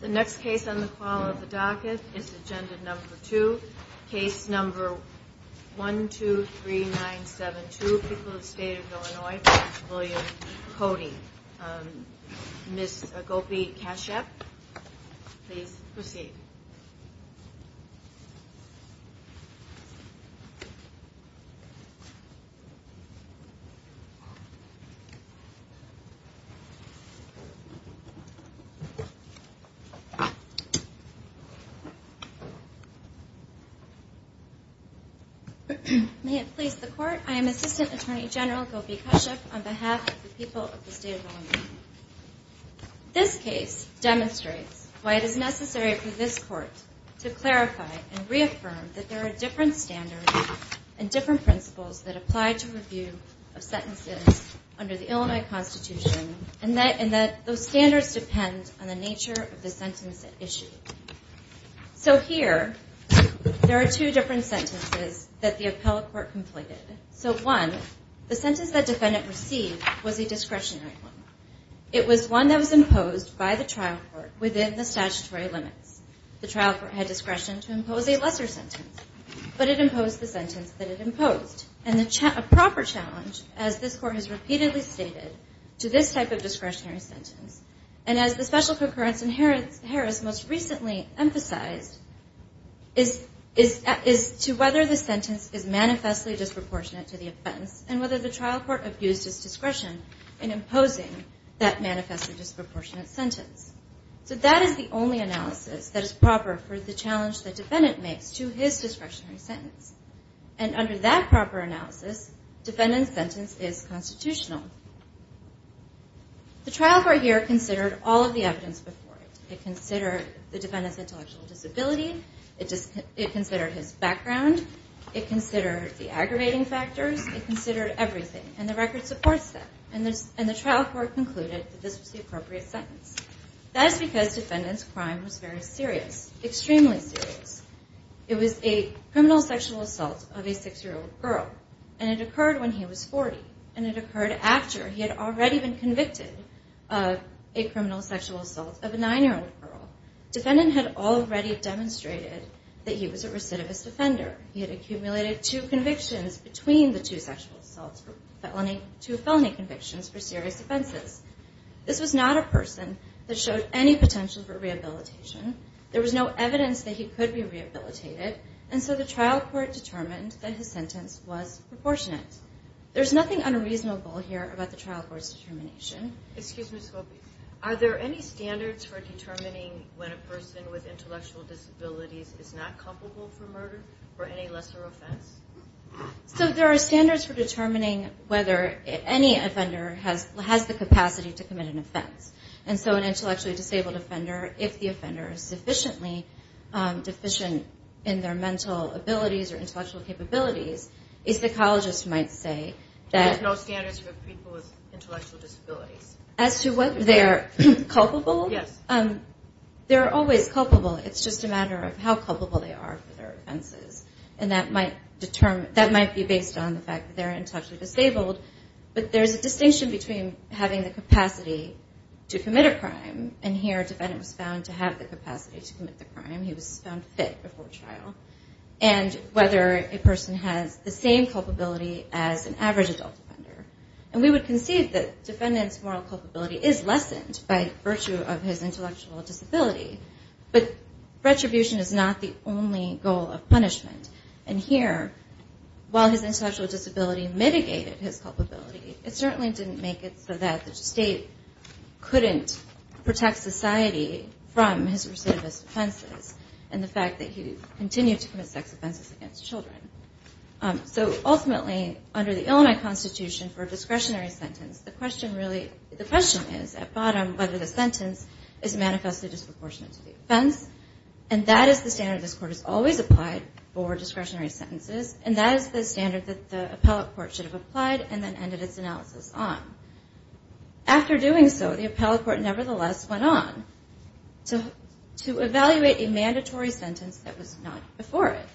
The next case on the call of the docket is agenda number two, case number 123972, People of the State of Illinois v. William Coty. Ms. Gopi Kashyap, please proceed. Gopi Kashyap May it please the Court, I am Assistant Attorney General Gopi Kashyap on behalf of the people of the State of Illinois. This case demonstrates why it is necessary for this Court to clarify and reaffirm that there are different standards and different principles that apply to review of sentences under the Illinois Constitution, and that those standards depend on the nature of the sentence issued. So here, there are two different sentences that the appellate court completed. So one, the sentence that defendant received was a discretionary one. It was one that was imposed by the trial court within the statutory limits. The trial court had discretion to impose a lesser sentence, but it imposed the sentence that it imposed. And a proper challenge, as this Court has repeatedly stated, to this type of discretionary sentence, and as the special concurrence in Harris most recently emphasized, is to whether the sentence is manifestly disproportionate to the offense, and whether the trial court abused its discretion in imposing that manifestly disproportionate sentence. So that is the only analysis that is proper for the challenge the defendant makes to his discretionary sentence. And under that proper analysis, defendant's sentence is constitutional. The trial court here considered all of the evidence before it. It considered the defendant's intellectual disability, it considered his background, it considered the aggravating factors, it considered everything, and the record supports that. And the trial court concluded that this was the appropriate sentence. That is because defendant's crime was very serious, extremely serious. It was a criminal sexual assault of a six-year-old girl, and it occurred when he was 40. And it occurred after he had already been convicted of a criminal sexual assault of a nine-year-old girl. Defendant had already demonstrated that he was a recidivist offender. He had accumulated two convictions between the two sexual assaults, two felony convictions for serious offenses. This was not a person that showed any potential for rehabilitation. There was no evidence that he could be rehabilitated, and so the trial court determined that his sentence was proportionate. There's nothing unreasonable here about the trial court's determination. Excuse me, Sophie. Are there any standards for determining when a person with intellectual disabilities is not culpable for murder or any lesser offense? So there are standards for determining whether any offender has the capacity to commit an offense. And so an intellectually disabled offender, if the offender is sufficiently deficient in their mental abilities or intellectual capabilities, a psychologist might say that there are no standards for people with intellectual disabilities. As to whether they are culpable? Yes. They're always culpable. It's just a matter of how culpable they are for their offenses. And that might be based on the fact that they're intellectually disabled. But there's a distinction between having the capacity to commit a crime, and here a defendant was found to have the capacity to commit the crime. He was found fit before trial. And whether a person has the same culpability as an average adult offender. And we would concede that defendant's moral culpability is lessened by virtue of his intellectual disability. But retribution is not the only goal of punishment. And here, while his intellectual disability mitigated his culpability, it certainly didn't make it so that the state couldn't protect society from his recidivist offenses. And the fact that he continued to commit sex offenses against children. So ultimately, under the Illinois Constitution, for a discretionary sentence, the question is, at bottom, whether the sentence is manifestly disproportionate to the offense. And that is the standard this Court has always applied for discretionary sentences. And that is the standard that the Appellate Court should have applied and then ended its analysis on. After doing so, the Appellate Court nevertheless went on. To evaluate a mandatory sentence that was not before it.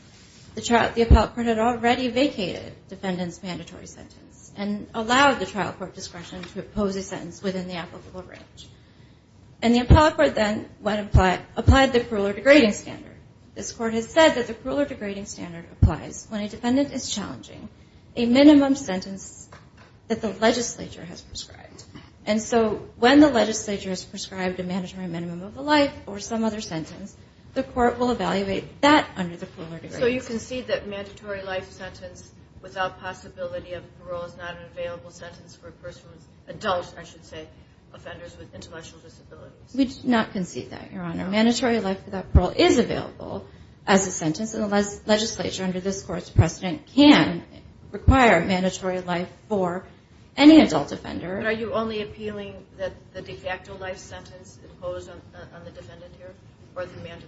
The Appellate Court had already vacated defendant's mandatory sentence. And allowed the trial court discretion to impose a sentence within the applicable range. And the Appellate Court then applied the cruel or degrading standard. This Court has said that the cruel or degrading standard applies when a defendant is challenging a minimum sentence that the legislature has prescribed. And so when the legislature has prescribed a mandatory minimum of a life or some other sentence, the Court will evaluate that under the cruel or degrading standard. So you concede that mandatory life sentence without possibility of parole is not an available sentence for a person who is adult, I should say, offenders with intellectual disabilities? We do not concede that, Your Honor. Mandatory life without parole is available as a sentence. And the legislature, under this Court's precedent, can require mandatory life for any adult offender. But are you only appealing that the de facto life sentence imposed on the defendant here? Or the mandatory?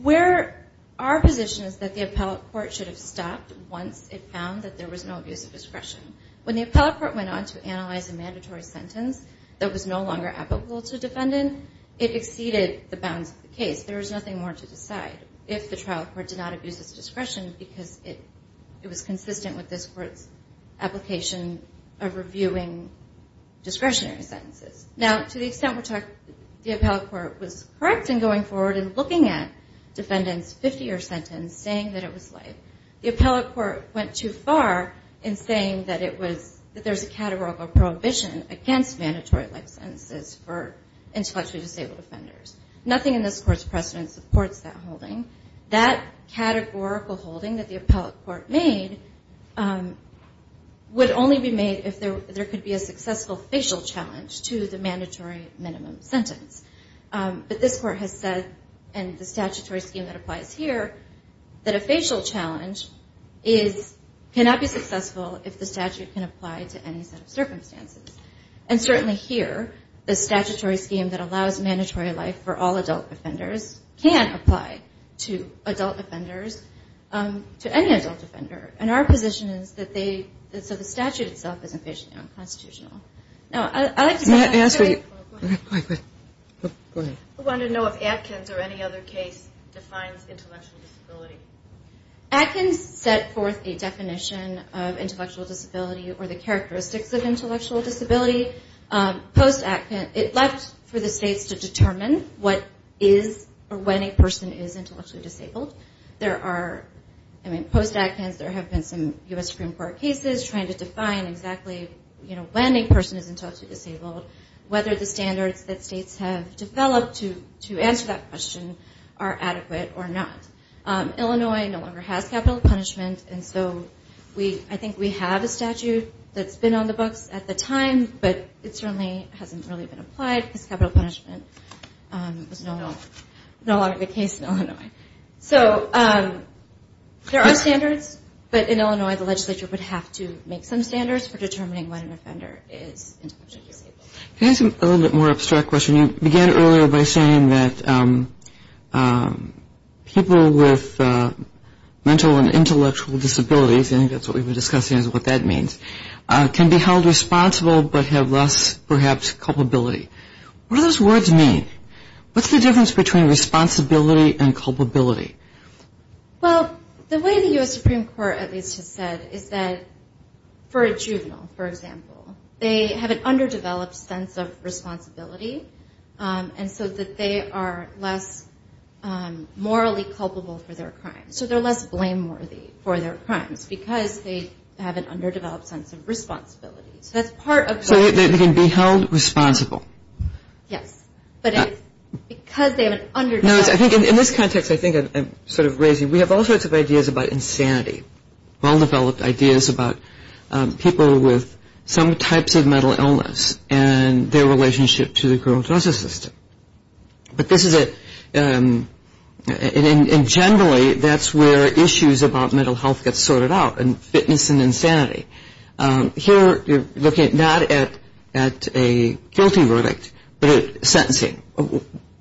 Where our position is that the Appellate Court should have stopped once it found that there was no abuse of discretion. When the Appellate Court went on to analyze a mandatory sentence that was no longer applicable to a defendant, it exceeded the bounds of the case. There is nothing more to decide if the Trial Court did not abuse its discretion because it was consistent with this Court's application of reviewing discretionary sentences. Now, to the extent the Appellate Court was correct in going forward and looking at defendants' 50-year sentence, saying that it was life, the Appellate Court went too far in saying that there's a categorical prohibition against mandatory life sentences for intellectually disabled offenders. Nothing in this Court's precedent supports that holding. That categorical holding that the Appellate Court made would only be made if there could be a successful facial challenge to the mandatory minimum sentence. But this Court has said, and the statutory scheme that applies here, that a facial challenge cannot be successful if the statute can apply to any set of circumstances. And certainly here, the statutory scheme that allows mandatory life for all adult offenders can apply to adult offenders, to any adult offender. And our position is that they – so the statute itself is infatuationally unconstitutional. Now, I'd like to – May I ask a – Go ahead. Go ahead. I wanted to know if Atkins or any other case defines intellectual disability. Atkins set forth a definition of intellectual disability or the characteristics of intellectual disability. Post-Atkins, it left for the states to determine what is or when a person is intellectually disabled. There are – I mean, post-Atkins, there have been some U.S. Supreme Court cases trying to define exactly, you know, when a person is intellectually disabled, whether the standards that states have developed to answer that question are adequate or not. Illinois no longer has capital punishment, and so we – I think we have a statute that's been on the books at the time, but it certainly hasn't really been applied because capital punishment was no longer the case in Illinois. So there are standards, but in Illinois, the legislature would have to make some standards for determining when an offender is intellectually disabled. Can I ask a little bit more abstract question? You began earlier by saying that people with mental and intellectual disabilities – I think that's what we were discussing is what that means – can be held responsible but have less, perhaps, culpability. What do those words mean? What's the difference between responsibility and culpability? Well, the way the U.S. Supreme Court at least has said is that for a juvenile, for example, they have an underdeveloped sense of responsibility, and so that they are less morally culpable for their crimes. So they're less blameworthy for their crimes because they have an underdeveloped sense of responsibility. So that's part of – So they can be held responsible. Yes, but because they have an underdeveloped – No, I think in this context, I think I'm sort of raising – we have all sorts of ideas about insanity, well-developed ideas about people with some types of mental illness and their relationship to the criminal justice system. But this is a – and generally, that's where issues about mental health get sorted out and fitness and insanity. Here, you're looking not at a guilty verdict but at sentencing.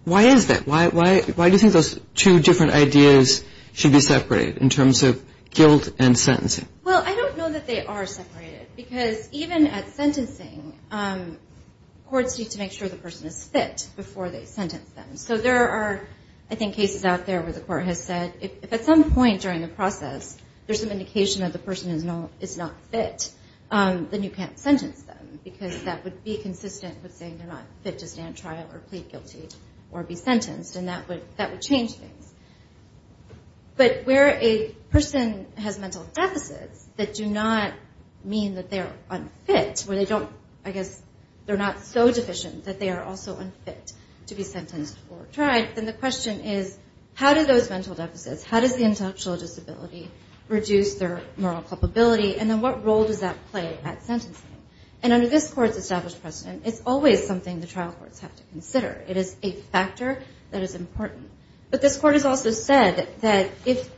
Why is that? Why do you think those two different ideas should be separated in terms of guilt and sentencing? Well, I don't know that they are separated because even at sentencing, courts need to make sure the person is fit before they sentence them. So there are, I think, cases out there where the court has said, if at some point during the process there's some indication that the person is not fit, then you can't sentence them because that would be consistent with saying they're not fit to stand trial or plead guilty or be sentenced, and that would change things. But where a person has mental deficits that do not mean that they are unfit, where they don't – I guess they're not so deficient that they are also unfit to be sentenced or tried, then the question is, how do those mental deficits, how does the intellectual disability reduce their moral culpability, and then what role does that play at sentencing? And under this court's established precedent, it's always something the trial courts have to consider. It is a factor that is important. But this court has also said that if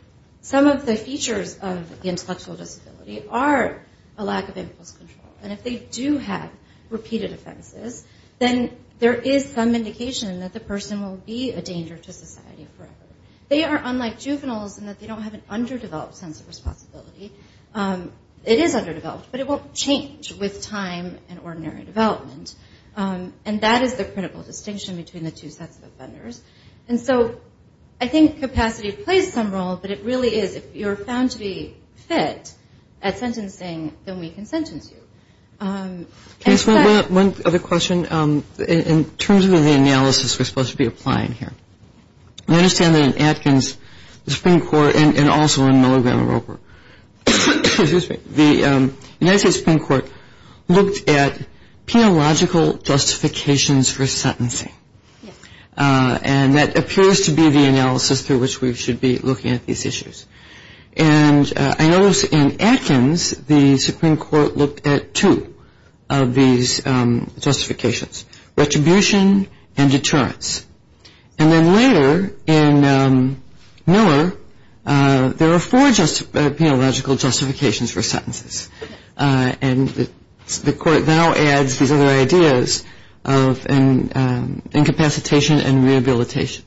some of the features of the intellectual disability are a lack of impulse control, and if they do have repeated offenses, then there is some indication that the person will be a danger to society forever. They are unlike juveniles in that they don't have an underdeveloped sense of responsibility. It is underdeveloped, but it won't change with time and ordinary development. And that is the critical distinction between the two sets of offenders. And so I think capacity plays some role, but it really is if you're found to be fit at sentencing, then we can sentence you. Can I ask one other question? In terms of the analysis we're supposed to be applying here, I understand that in Atkins, the Supreme Court, and also in Milligram and Roper, the United States Supreme Court looked at theological justifications for sentencing. And that appears to be the analysis through which we should be looking at these issues. And I notice in Atkins, the Supreme Court looked at two of these justifications, retribution and deterrence. And then later in Miller, there are four theological justifications for sentences. And the court now adds these other ideas of incapacitation and rehabilitation.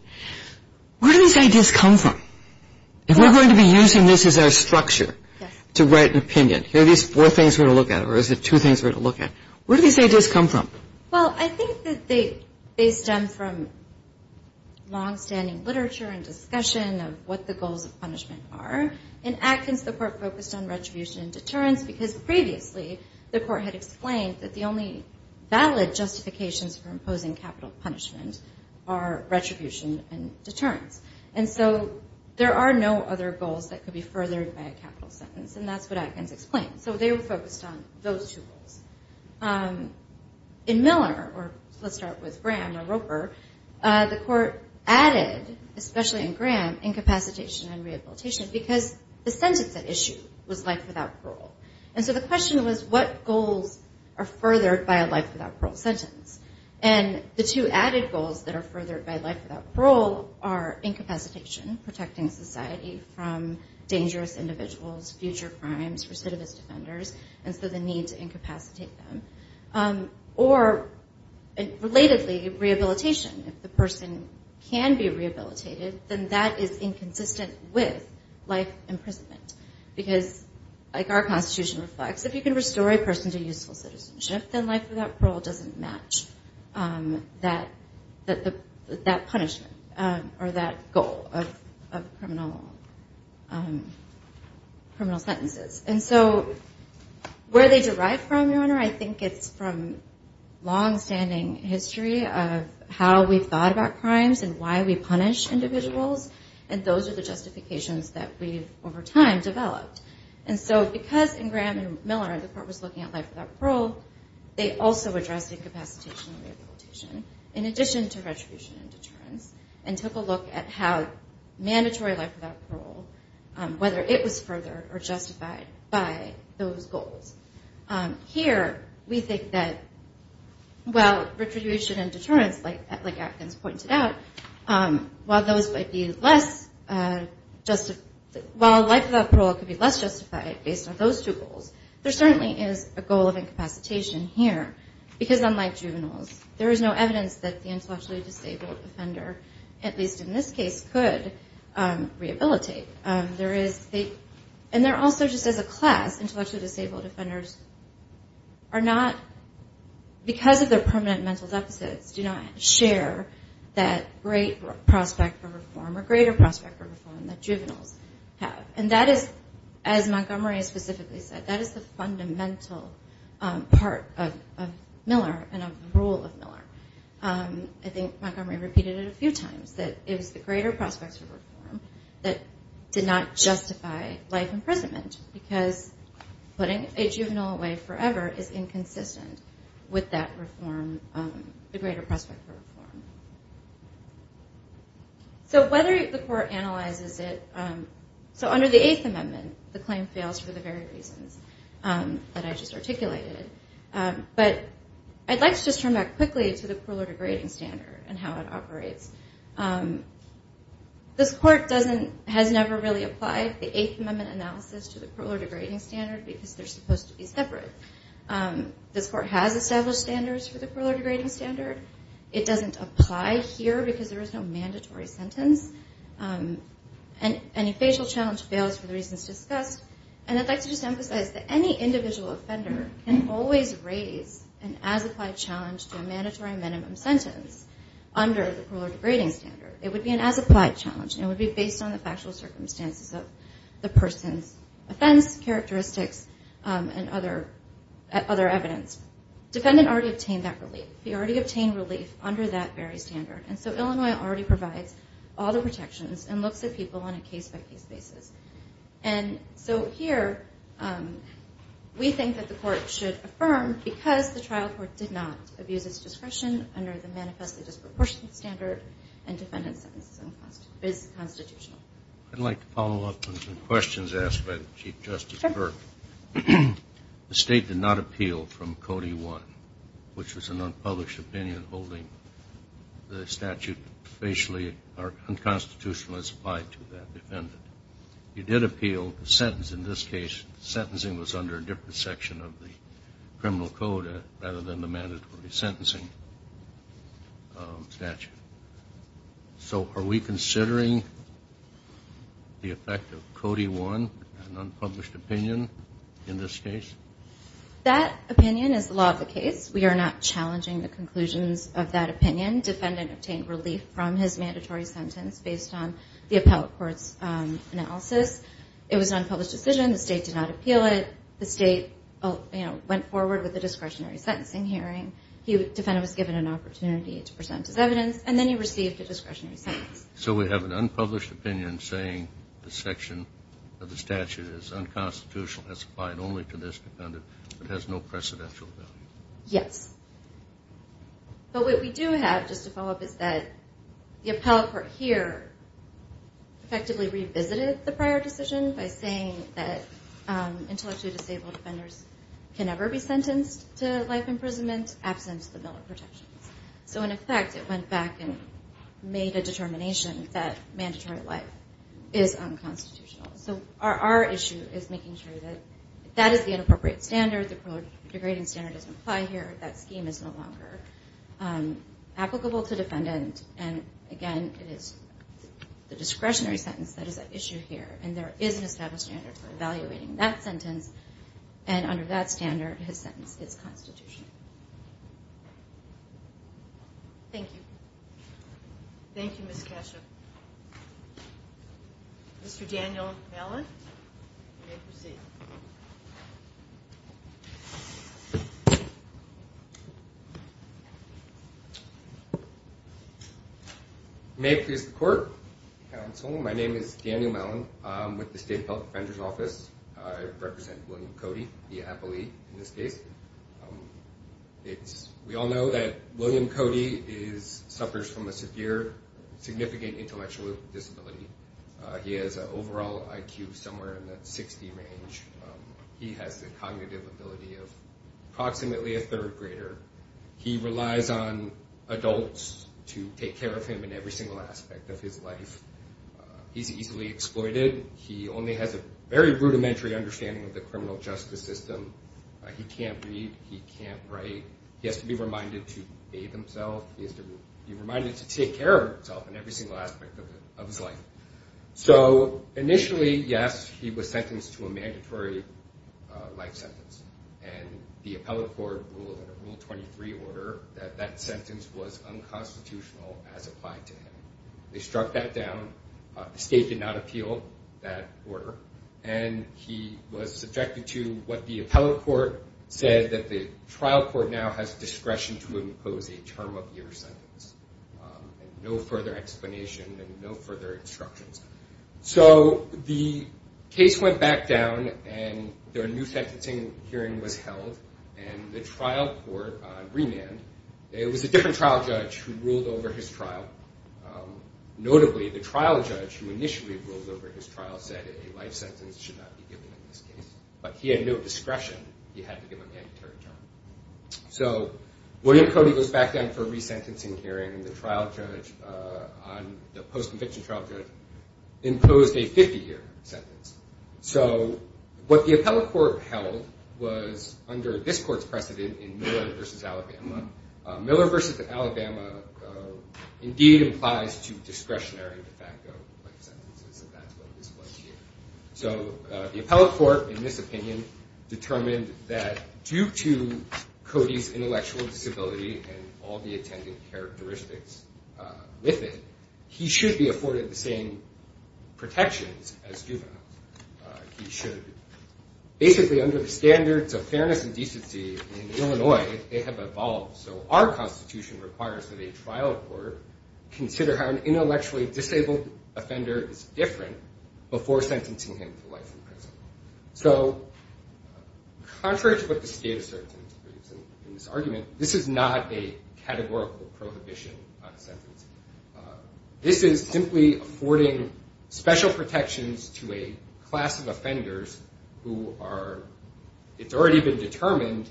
Where do these ideas come from? If we're going to be using this as our structure to write an opinion, here are these four things we're going to look at, or is it two things we're going to look at. Where do these ideas come from? Well, I think that they stem from longstanding literature and discussion of what the goals of punishment are. In Atkins, the court focused on retribution and deterrence, because previously the court had explained that the only valid justifications for imposing capital punishment are retribution and deterrence. And so there are no other goals that could be furthered by a capital sentence, and that's what Atkins explained. So they were focused on those two goals. In Miller, or let's start with Graham or Roper, the court added, especially in Graham, incapacitation and rehabilitation, because the sentence at issue was life without parole. And so the question was, what goals are furthered by a life without parole sentence? And the two added goals that are furthered by life without parole are incapacitation, protecting society from dangerous individuals, future crimes, recidivist offenders, and so the need to incapacitate them. Or, relatedly, rehabilitation. If the person can be rehabilitated, then that is inconsistent with life imprisonment, because like our Constitution reflects, if you can restore a person to useful citizenship, then life without parole doesn't match that punishment or that goal of criminal sentences. And so where they derive from, Your Honor, I think it's from longstanding history of how we've thought about crimes and why we punish individuals, and those are the justifications that we've, over time, developed. And so because in Graham and Miller, the court was looking at life without parole, they also addressed incapacitation and rehabilitation, in addition to retribution and deterrence, and took a look at how mandatory life without parole, whether it was furthered or justified by those goals. Here, we think that while retribution and deterrence, like Atkins pointed out, while life without parole could be less justified based on those two goals, there certainly is a goal of incapacitation here, because unlike juveniles, there is no evidence that the intellectually disabled offender, at least in this case, could rehabilitate. And there also, just as a class, intellectually disabled offenders are not, because of their permanent mental deficits, do not share that great prospect for reform or greater prospect for reform that juveniles have. And that is, as Montgomery specifically said, that is the fundamental part of Miller and of the rule of Miller. I think Montgomery repeated it a few times, that it was the greater prospects for reform that did not justify life imprisonment, because putting a juvenile away forever is inconsistent with that reform, the greater prospect for reform. So whether the court analyzes it, so under the Eighth Amendment, the claim fails for the very reasons that I just articulated, but I'd like to just turn back quickly to the parole degrading standard and how it operates. This court has never really applied the Eighth Amendment analysis to the parole degrading standard, because they're supposed to be separate. This court has established standards for the parole degrading standard. It doesn't apply here, because there is no mandatory sentence, and any facial challenge fails for the reasons discussed. And I'd like to just emphasize that any individual offender can always raise an as-applied challenge to a mandatory minimum sentence under the parole degrading standard. It would be an as-applied challenge, and it would be based on the factual circumstances of the person's offense, characteristics, and other evidence. Defendant already obtained that relief. He already obtained relief under that very standard. And so Illinois already provides all the protections and looks at people on a case-by-case basis. And so here we think that the court should affirm, because the trial court did not abuse its discretion under the manifestly disproportionate standard and defendant's sentence is constitutional. I'd like to follow up on some questions asked by Chief Justice Burke. The State did not appeal from Codee I, which was an unpublished opinion holding the statute facially or unconstitutional as applied to that defendant. You did appeal the sentence. In this case, the sentencing was under a different section of the criminal code rather than the mandatory sentencing statute. So are we considering the effect of Codee I, an unpublished opinion, in this case? That opinion is the law of the case. We are not challenging the conclusions of that opinion. Defendant obtained relief from his mandatory sentence based on the appellate court's analysis. It was an unpublished decision. The State did not appeal it. The State went forward with a discretionary sentencing hearing. Defendant was given an opportunity to present his evidence and then he received a discretionary sentence. So we have an unpublished opinion saying the section of the statute is unconstitutional as applied only to this defendant but has no precedential value? Yes. But what we do have, just to follow up, is that the appellate court here effectively revisited the prior decision by saying that intellectually disabled offenders can never be sentenced to life imprisonment absent the Miller protections. So in effect, it went back and made a determination that mandatory life is unconstitutional. So our issue is making sure that if that is the inappropriate standard, the degrading standard doesn't apply here, that scheme is no longer applicable to defendant. And again, it is the discretionary sentence that is at issue here. And there is an established standard for evaluating that sentence. And under that standard, his sentence is constitutional. Thank you. Thank you, Ms. Kasha. Mr. Daniel Mellon, you may proceed. May it please the court. Counsel, my name is Daniel Mellon. I'm with the State Public Defender's Office. I represent William Cody, the appellee in this case. We all know that William Cody suffers from a severe, significant intellectual disability. He has an overall IQ somewhere in the 60 range. He has the cognitive ability of approximately a third grader. He relies on adults to take care of him in every single aspect of his life. He's easily exploited. He only has a very rudimentary understanding of the criminal justice system. He can't read. He can't write. He has to be reminded to bathe himself. He has to be reminded to take care of himself in every single aspect of his life. So initially, yes, he was sentenced to a mandatory life sentence. And the appellate court ruled in a Rule 23 order that that sentence was unconstitutional as applied to him. They struck that down. The state did not appeal that order. And he was subjected to what the appellate court said that the trial court now has discretion to impose a term of your sentence. No further explanation and no further instructions. So the case went back down and their new sentencing hearing was held and the trial court remanded. It was a different trial judge who ruled over his trial. Notably, the trial judge who initially ruled over his trial said a life sentence should not be given in this case. But he had no discretion. He had to give a mandatory term. So William Cody goes back down for a resentencing hearing. The post-conviction trial judge imposed a 50-year sentence. So what the appellate court held was under this court's precedent in Miller v. Alabama. Miller v. Alabama indeed implies to discretionary de facto life sentences. So the appellate court in this opinion determined that due to Cody's intellectual disability and all the attendant characteristics with it, he should be afforded the same protections as juveniles. He should. Basically under the standards of fairness and decency in Illinois, they have evolved. So our constitution requires that a trial court consider how an intellectually disabled offender is different before sentencing him to life in prison. So contrary to what the state asserts in this argument, this is not a categorical prohibition on sentencing. This is simply affording special protections to a class of offenders who are, it's already been determined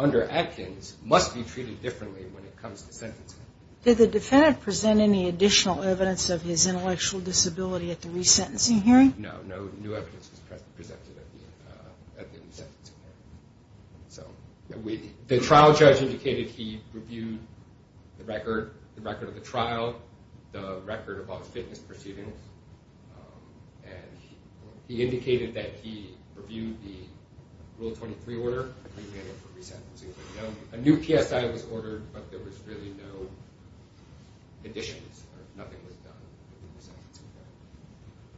under Atkins, must be treated differently when it comes to sentencing. Did the defendant present any additional evidence of his intellectual disability at the resentencing hearing? No, no new evidence was presented at the resentencing hearing. The trial judge indicated he reviewed the record of the trial, the record of all the fitness proceedings. And he indicated that he reviewed the Rule 23 order. A new PSI was ordered, but there was really no additions or nothing was done.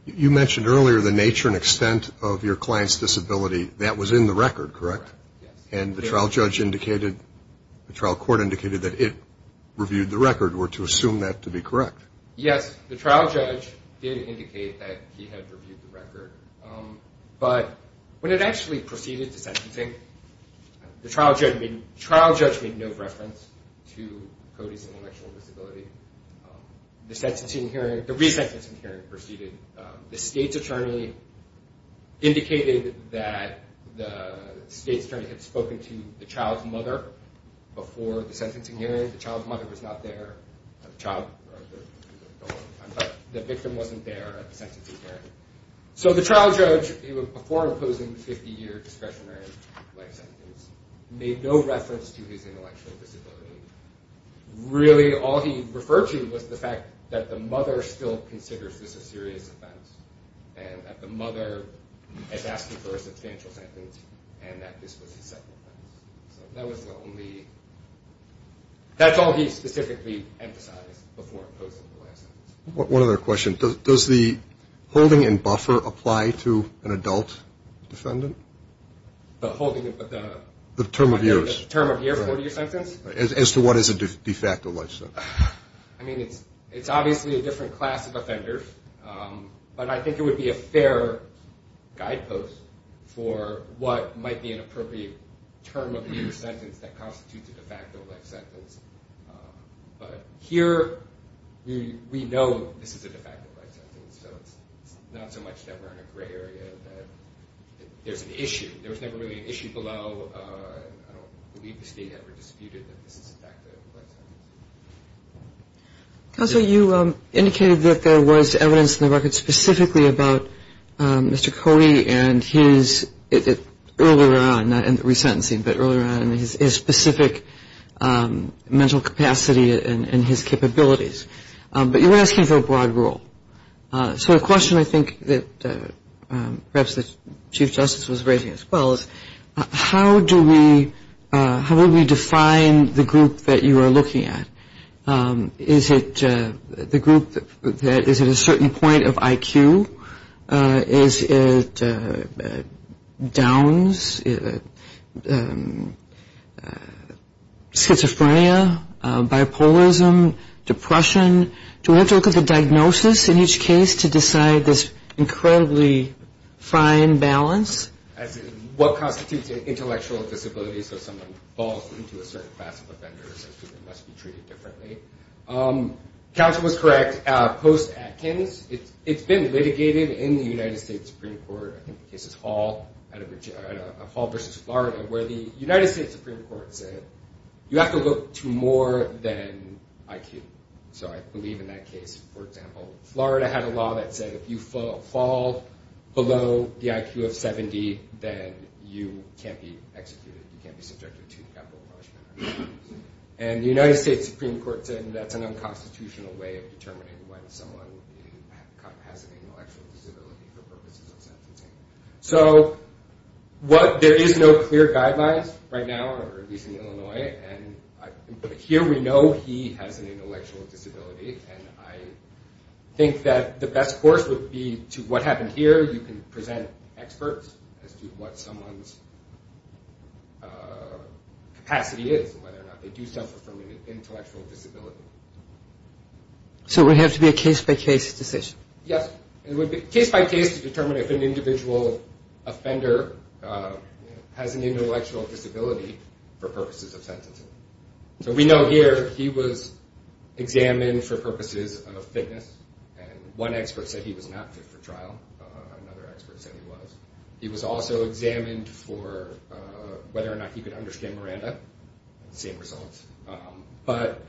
You mentioned earlier the nature and extent of your client's disability. That was in the record, correct? Yes. And the trial judge indicated, the trial court indicated that it reviewed the record, or to assume that to be correct? Yes, the trial judge did indicate that he had reviewed the record, but when it actually proceeded to sentencing, the trial judge made no reference to Cody's intellectual disability. The resentencing hearing proceeded. The state's attorney indicated that the state's attorney had spoken to the child's mother before the sentencing hearing. The child's mother was not there, the victim wasn't there at the sentencing hearing. So the trial judge, before imposing the 50-year discretionary life sentence, made no reference to his intellectual disability. Really, all he referred to was the fact that the mother still considers this a serious offense, and that the mother is asking for a substantial sentence, and that this was his second offense. That's all he specifically emphasized before imposing the life sentence. One other question. Does the holding and buffer apply to an adult defendant? To what is a de facto life sentence? I mean, it's obviously a different class of offenders, but I think it would be a fair guidepost for what might be an appropriate term of the sentence that constitutes a de facto life sentence. But here, we know this is a de facto life sentence, so it's not so much that we're in a gray area, that there's an issue. There was never really an issue below, and I don't believe the state ever disputed that this is a de facto life sentence. Counselor, you indicated that there was evidence in the record specifically about Mr. Cody and his, earlier on, not in the resentencing, but earlier on, and his specific mental capacity and his capabilities. But you were asking for a broad rule. So a question I think that perhaps the Chief Justice was raising as well is, how do we define the group that you are looking at? Is it the group that is at a certain point of IQ? Is it Downs? Schizophrenia? Bipolarism? Depression? Do we have to look at the diagnosis in each case to decide this incredibly fine balance? What constitutes an intellectual disability, so someone falls into a certain class of offenders and must be treated differently? Counsel was correct. Post-Atkins, it's been litigated in the United States Supreme Court. I think the case is Hall versus Florida, where the United States Supreme Court said, you have to look to more than IQ. So I believe in that case, for example, Florida had a law that said, if you fall below the IQ of 70, then you can't be executed, you can't be subjected to capital punishment. And the United States Supreme Court said that's an unconstitutional way of determining when someone has an intellectual disability for purposes of sentencing. So there is no clear guidelines right now, or at least in Illinois, and here we know he has an intellectual disability, and I think that the best course would be, to what happened here, you can present experts as to what someone's capacity is, and whether or not they do suffer from an intellectual disability. So it would have to be a case-by-case decision? Yes, case-by-case to determine if an individual offender has an intellectual disability for purposes of sentencing. So we know here he was examined for purposes of fitness, and one expert said he was not fit for trial, another expert said he was. He was also examined for whether or not he could understand Miranda. Same results. But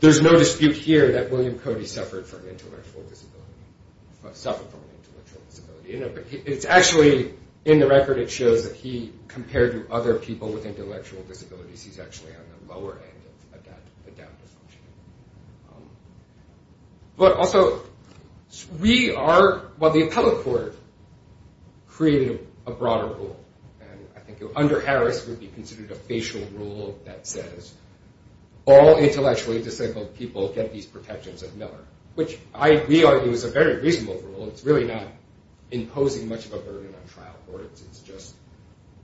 there's no dispute here that William Cody suffered from an intellectual disability. It's actually, in the record, it shows that he, compared to other people with intellectual disabilities, he's actually on the lower end of adaptive functioning. But also, we are, while the appellate court created a broader rule, and I think under Harris it would be considered a facial rule that says all intellectually disabled people get these protections at Miller, which we argue is a very reasonable rule. It's really not imposing much of a burden on trial courts. It's just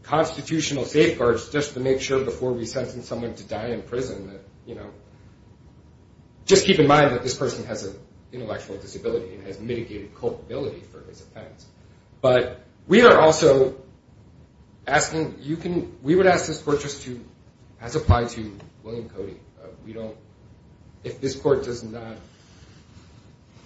constitutional safeguards just to make sure before we sentence someone to die in prison that, you know, just keep in mind that this person has an intellectual disability and has mitigated culpability for his offense. But we are also asking, we would ask this court just to, as applied to William Cody, we don't, if this court does not,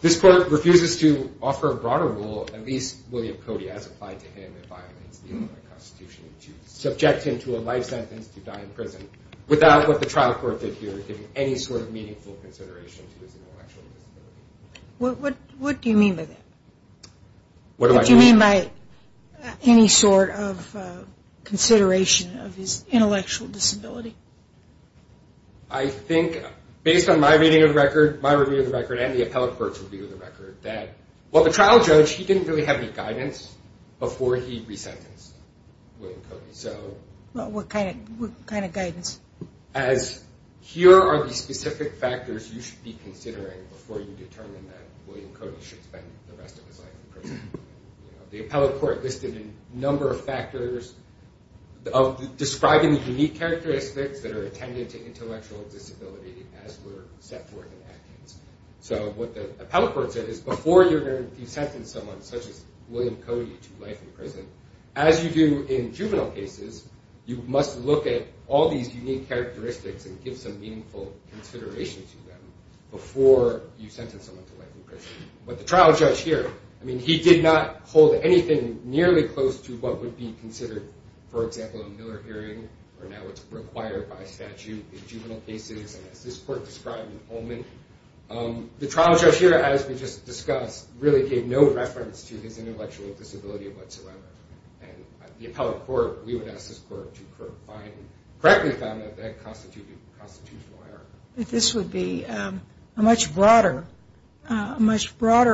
this court refuses to offer a broader rule, at least William Cody, as applied to him, it violates the Constitution to subject him to a life sentence to die in prison without what the trial court did here, giving any sort of meaningful consideration to his intellectual disability. What do you mean by that? Do you mean by any sort of consideration of his intellectual disability? I think, based on my reading of the record, my review of the record, and the appellate court's review of the record, that while the trial judge, he didn't really have any guidance before he resentenced William Cody. What kind of guidance? As here are the specific factors you should be considering before you determine that William Cody should spend the rest of his life in prison. The appellate court listed a number of factors describing the unique characteristics that are attended to intellectual disability as were set forth in that case. So what the appellate court said is before you sentence someone, such as William Cody, to life in prison, as you do in juvenile cases, you must look at all these unique characteristics and give some meaningful consideration to them before you sentence someone to life in prison. But the trial judge here, he did not hold anything nearly close to what would be considered, for example, a Miller hearing, or now it's required by statute in juvenile cases, as this court described in Pullman. The trial judge here, as we just discussed, really gave no reference to his intellectual disability whatsoever. And the appellate court, we would ask this court to find, correctly found that that constituted a constitutional error. This would be a much broader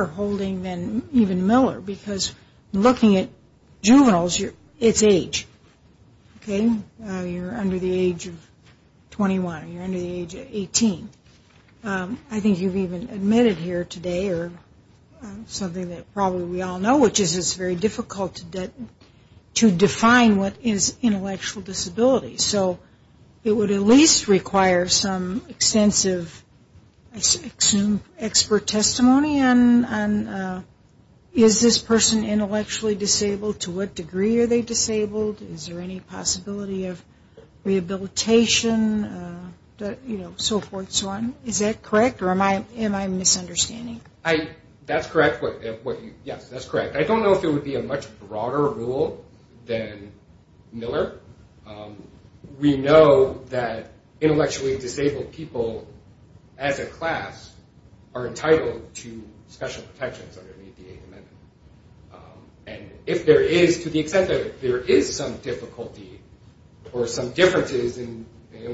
holding than even Miller, because looking at juveniles, it's age. Okay, you're under the age of 21, you're under the age of 18. I think you've even admitted here today, or something that probably we all know, which is it's very difficult to define what is intellectual disability. So it would at least require some extensive expert testimony on is this person intellectually disabled, to what degree are they disabled, is there any possibility of rehabilitation, so forth, so on. Is that correct, or am I misunderstanding? Yes, that's correct. I don't know if it would be a much broader rule than Miller. We know that intellectually disabled people as a class are entitled to special protections under the 8th Amendment. And if there is, to the extent that there is some difficulty, or some differences in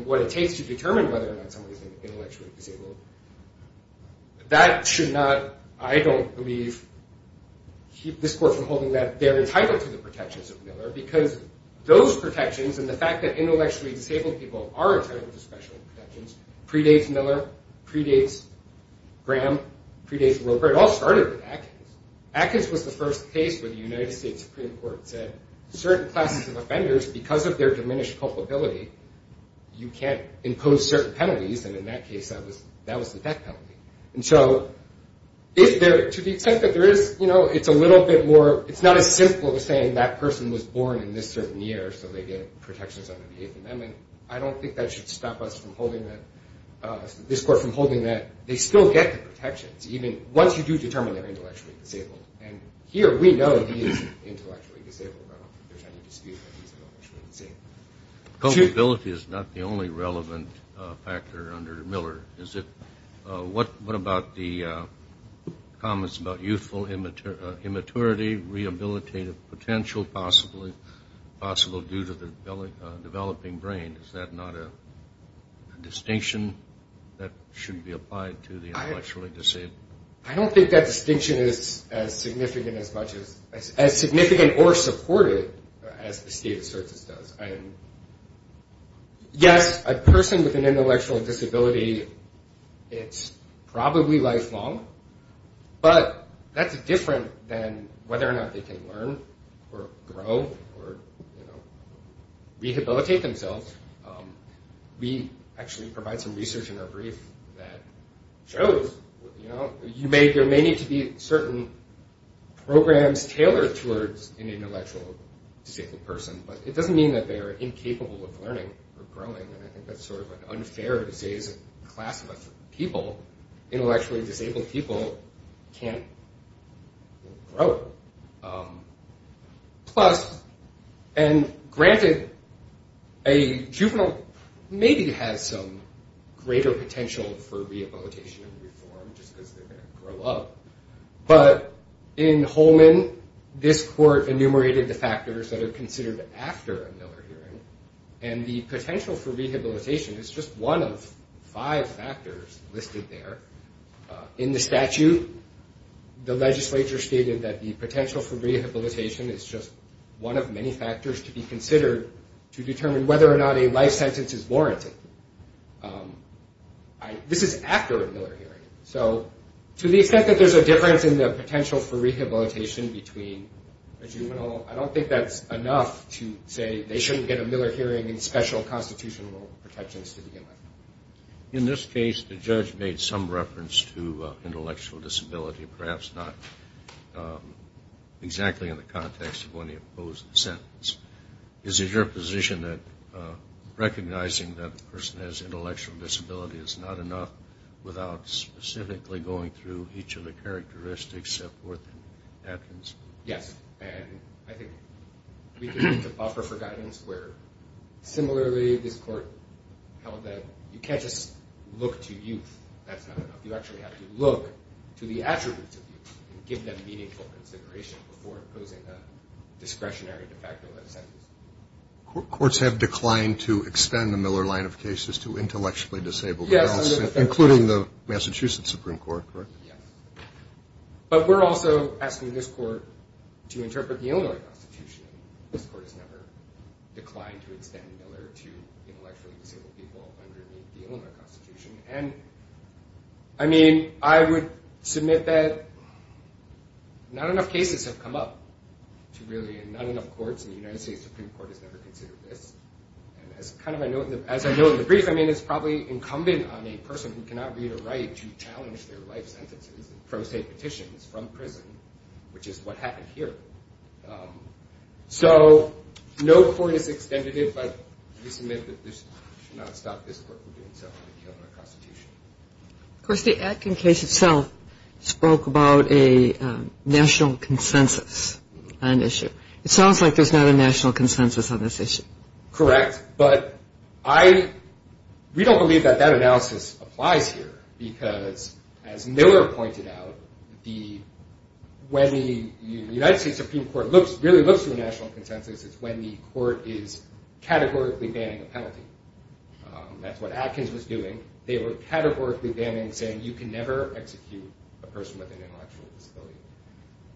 what it takes to determine whether or not someone is intellectually disabled, that should not, I don't believe, keep this court from holding that they're entitled to the protections of Miller, because those protections, and the fact that intellectually disabled people are entitled to special protections, predates Miller, predates Graham, predates Roper, it all started with Atkins. Atkins was the first case where the United States Supreme Court said certain classes of offenders, because of their diminished culpability, you can't impose certain penalties, and in that case that was the death penalty. To the extent that there is, it's a little bit more, it's not as simple as saying that person was born in this certain year, so they get protections under the 8th Amendment. I don't think that should stop this court from holding that they still get the protections, even once you do determine they're intellectually disabled. And here we know he is intellectually disabled. Culpability is not the only relevant factor under Miller. What about the comments about youthful immaturity, rehabilitative potential, possibly due to the developing brain? Is that not a distinction that should be applied to the intellectually disabled? I don't think that distinction is as significant or supported as the State of the Circus does. Yes, a person with an intellectual disability, it's probably lifelong, but that's different than whether or not they can learn or grow or rehabilitate themselves. We actually provide some research in our brief that shows, there may need to be certain programs tailored towards an intellectually disabled person, but it doesn't mean that they're incapable of learning or growing, and I think that's sort of unfair to say, as a class of people, intellectually disabled people can't grow. Plus, and granted, a juvenile maybe has some greater potential for rehabilitation and reform, just because they're going to grow up, but in Holman, this court enumerated the factors that are considered after a Miller hearing, and the potential for rehabilitation is just one of five factors listed there. In the statute, the legislature stated that the potential for rehabilitation is just one of many factors to be considered to determine whether or not a life sentence is warranted. This is after a Miller hearing, so to the extent that there's a difference in the potential for rehabilitation between a juvenile, I don't think that's enough to say they shouldn't get a Miller hearing in special constitutional protections to begin with. In this case, the judge made some reference to intellectual disability, perhaps not exactly in the context of when he opposed the sentence. Is it your position that recognizing that a person has intellectual disability is not enough without specifically going through each of the characteristics of what happens? Yes, and I think we can use the buffer for guidance where similarly, this court held that you can't just look to youth, that's not enough. You actually have to look to the attributes of youth and give them meaningful consideration before opposing a discretionary de facto life sentence. Courts have declined to extend the Miller line of cases to intellectually disabled adults, including the Massachusetts Supreme Court, correct? Yes, but we're also asking this court to interpret the Illinois Constitution. This court has never declined to extend Miller to intellectually disabled people under the Illinois Constitution. I would submit that not enough cases have come up to really, and not enough courts in the United States Supreme Court has ever considered this. As I know in the brief, it's probably incumbent on a person who cannot read or write to challenge their life sentences from state petitions, from prison, which is what happened here. So no court has extended it, but we submit that this should not stop this court from doing so under the Illinois Constitution. Of course, the Atkin case itself spoke about a national consensus on the issue. It sounds like there's not a national consensus on this issue. Correct, but we don't believe that that analysis applies here, because as Miller pointed out, when the United States Supreme Court really looks to a national consensus, it's when the court is categorically banning a penalty. That's what Atkins was doing. They were categorically banning, saying you can never execute a person with an intellectual disability.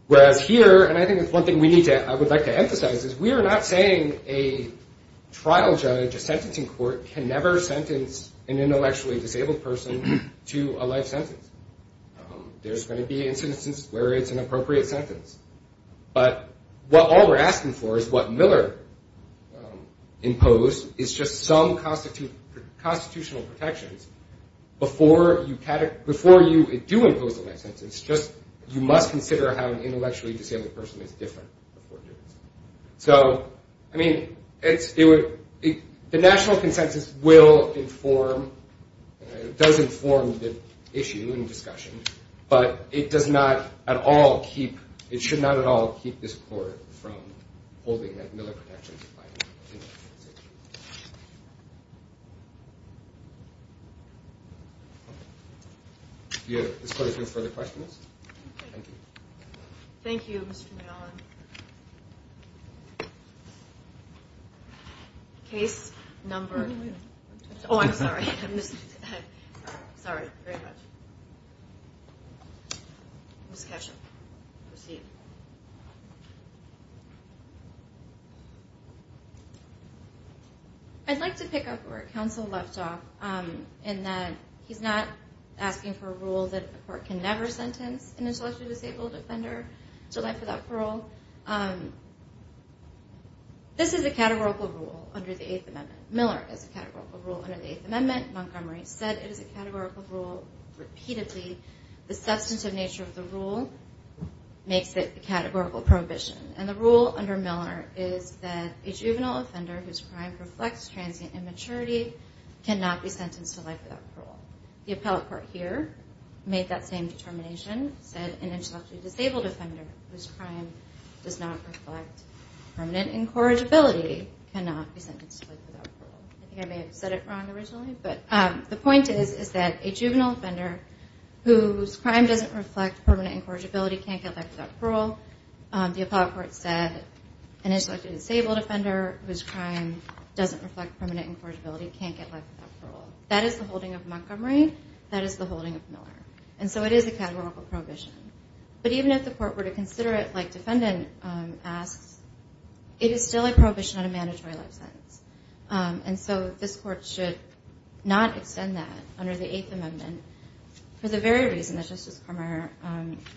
Whereas here, and I think that's one thing I would like to emphasize, is we are not saying a trial judge, a sentencing court, can never sentence an intellectually disabled person to a life sentence. There's going to be instances where it's an appropriate sentence. But all we're asking for is what Miller imposed is just some constitutional protections before you do impose a life sentence. You must consider how an intellectually disabled person is different before you do this. The national consensus does inform the issue and discussion, but it should not at all keep this court from holding Miller protections. Thank you. I'd like to pick up where Counsel left off, in that he's not asking for a rule that a court can never sentence an intellectually disabled offender to a life without parole. This is a categorical rule under the Eighth Amendment. Miller is a categorical rule under the Eighth Amendment. Montgomery said it is a categorical rule repeatedly. The substantive nature of the rule makes it a categorical prohibition. And the rule under Miller is that a juvenile offender whose crime reflects transient immaturity cannot be sentenced to life without parole. The appellate court here made that same determination, said an intellectually disabled offender whose crime does not reflect permanent incorrigibility cannot be sentenced to life without parole. I think I may have said it wrong originally, but the point is that a juvenile offender whose crime doesn't reflect permanent incorrigibility can't get life without parole. The appellate court said an intellectually disabled offender whose crime doesn't reflect permanent incorrigibility can't get life without parole. That is the holding of Montgomery. That is the holding of Miller. And so it is a categorical prohibition. But even if the court were to consider it like defendant asks, it is still a prohibition on a mandatory life sentence. And so this court should not extend that under the Eighth Amendment for the very reason that Justice Cormier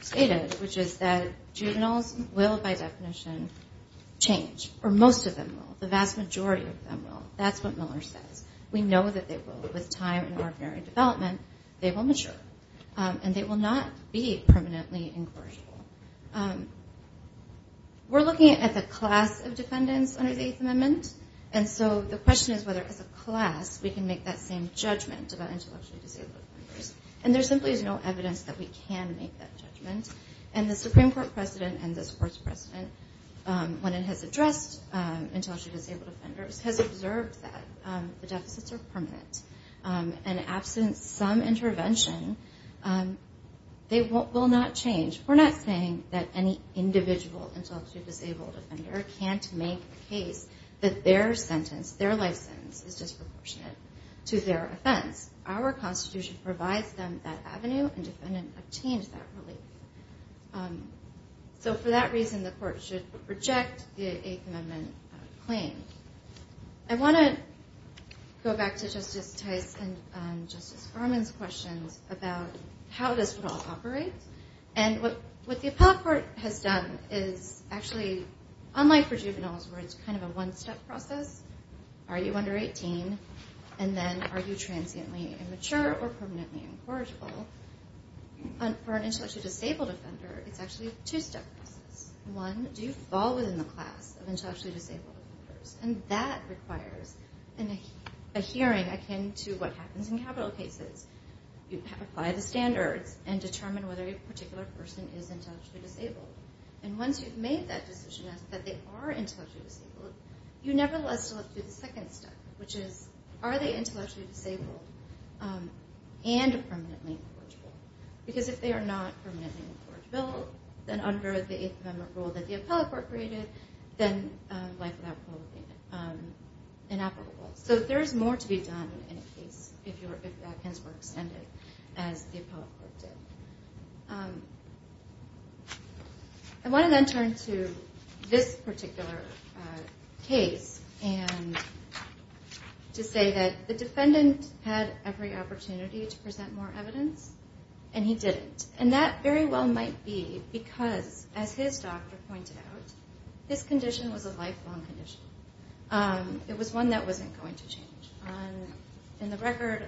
stated, which is that juveniles will, by definition, change. Or most of them will. The vast majority of them will. That's what Miller says. We know that they will. With time and ordinary development, they will mature. And they will not be permanently incorrigible. We're looking at the class of defendants under the Eighth Amendment. And so the question is whether as a class we can make that same judgment about intellectually disabled offenders. And there simply is no evidence that we can make that judgment. And the Supreme Court precedent and this court's precedent, when it has addressed intellectually disabled offenders, has observed that the deficits are permanent. And absent some intervention, they will not change. We're not saying that any individual intellectually disabled offender can't make the case that their sentence, their life sentence, is disproportionate to their offense. Our Constitution provides them that avenue, and defendants obtain that relief. So for that reason, the court should reject the Eighth Amendment claim. I want to go back to Justice Tice and Justice Farman's questions about how this would all operate. And what the appellate court has done is actually, unlike for juveniles, where it's kind of a one-step process, are you under 18? And then are you transiently immature or permanently incorrigible? For an intellectually disabled offender, it's actually a two-step process. One, do you fall within the class of intellectually disabled offenders? And that requires a hearing akin to what happens in capital cases. You apply the standards and determine whether a particular person is intellectually disabled. And once you've made that decision that they are intellectually disabled, you nevertheless have to look at the second step, which is, are they intellectually disabled and permanently incorrigible? Because if they are not permanently incorrigible, then under the Eighth Amendment rule that the appellate court created, then life without parole would be inoperable. So there is more to be done in a case if the opinions were extended, as the appellate court did. I want to then turn to this particular case, and to say that the defendant had every opportunity to present more evidence, and he didn't. And that very well might be because, as his doctor pointed out, this condition was a lifelong condition. It was one that wasn't going to change. In the record,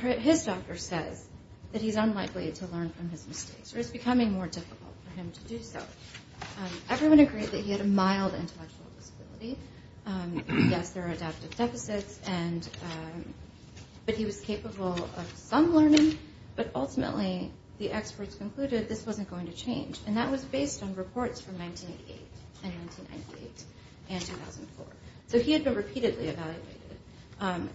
his doctor says that he's unlikely to learn from his mistakes, or it's becoming more difficult for him to do so. Everyone agreed that he had a mild intellectual disability. Yes, there are adaptive deficits, but he was capable of some learning. But ultimately, the experts concluded this wasn't going to change. And that was based on reports from 1988 and 1998 and 2004. So he had been repeatedly evaluated,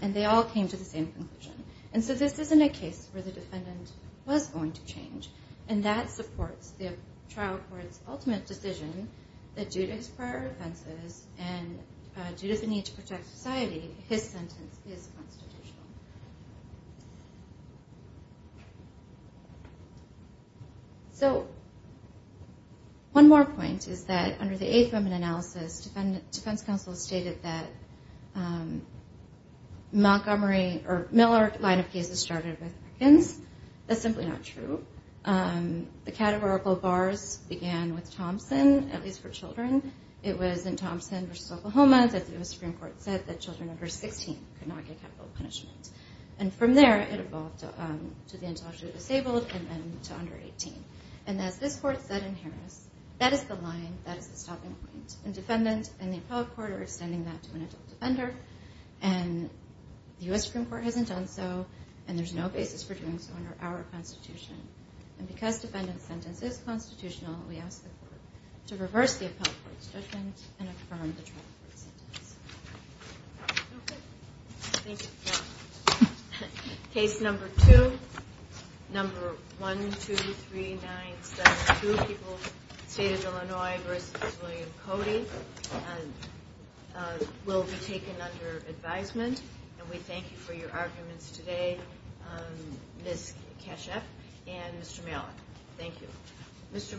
and they all came to the same conclusion. And so this isn't a case where the defendant was going to change. And that supports the trial court's ultimate decision, that due to his prior offenses, and due to the need to protect society, his sentence is constitutional. So one more point is that under the 8th Amendment analysis, defense counsel stated that Miller's line of cases started with Perkins. That's simply not true. The categorical bars began with Thompson, at least for children. It was in Thompson v. Oklahoma that the U.S. Supreme Court said that children under 16 could not get capital punishment. And from there, it evolved to the intellectually disabled and then to under 18. And as this court said in Harris, that is the line, that is the stopping point. And the defendant and the appellate court are extending that to an adult defender. And the U.S. Supreme Court hasn't done so, and there's no basis for doing so under our Constitution. And because defendant's sentence is constitutional, we ask the court to reverse the appellate court's judgment and affirm the trial court's sentence. Case number two. Number 1, 2, 3, 9, 7, 2. People's State of Illinois v. William Cody will be taken under advisement. And we thank you for your arguments today, Ms. Kashef and Mr. Malik. Thank you.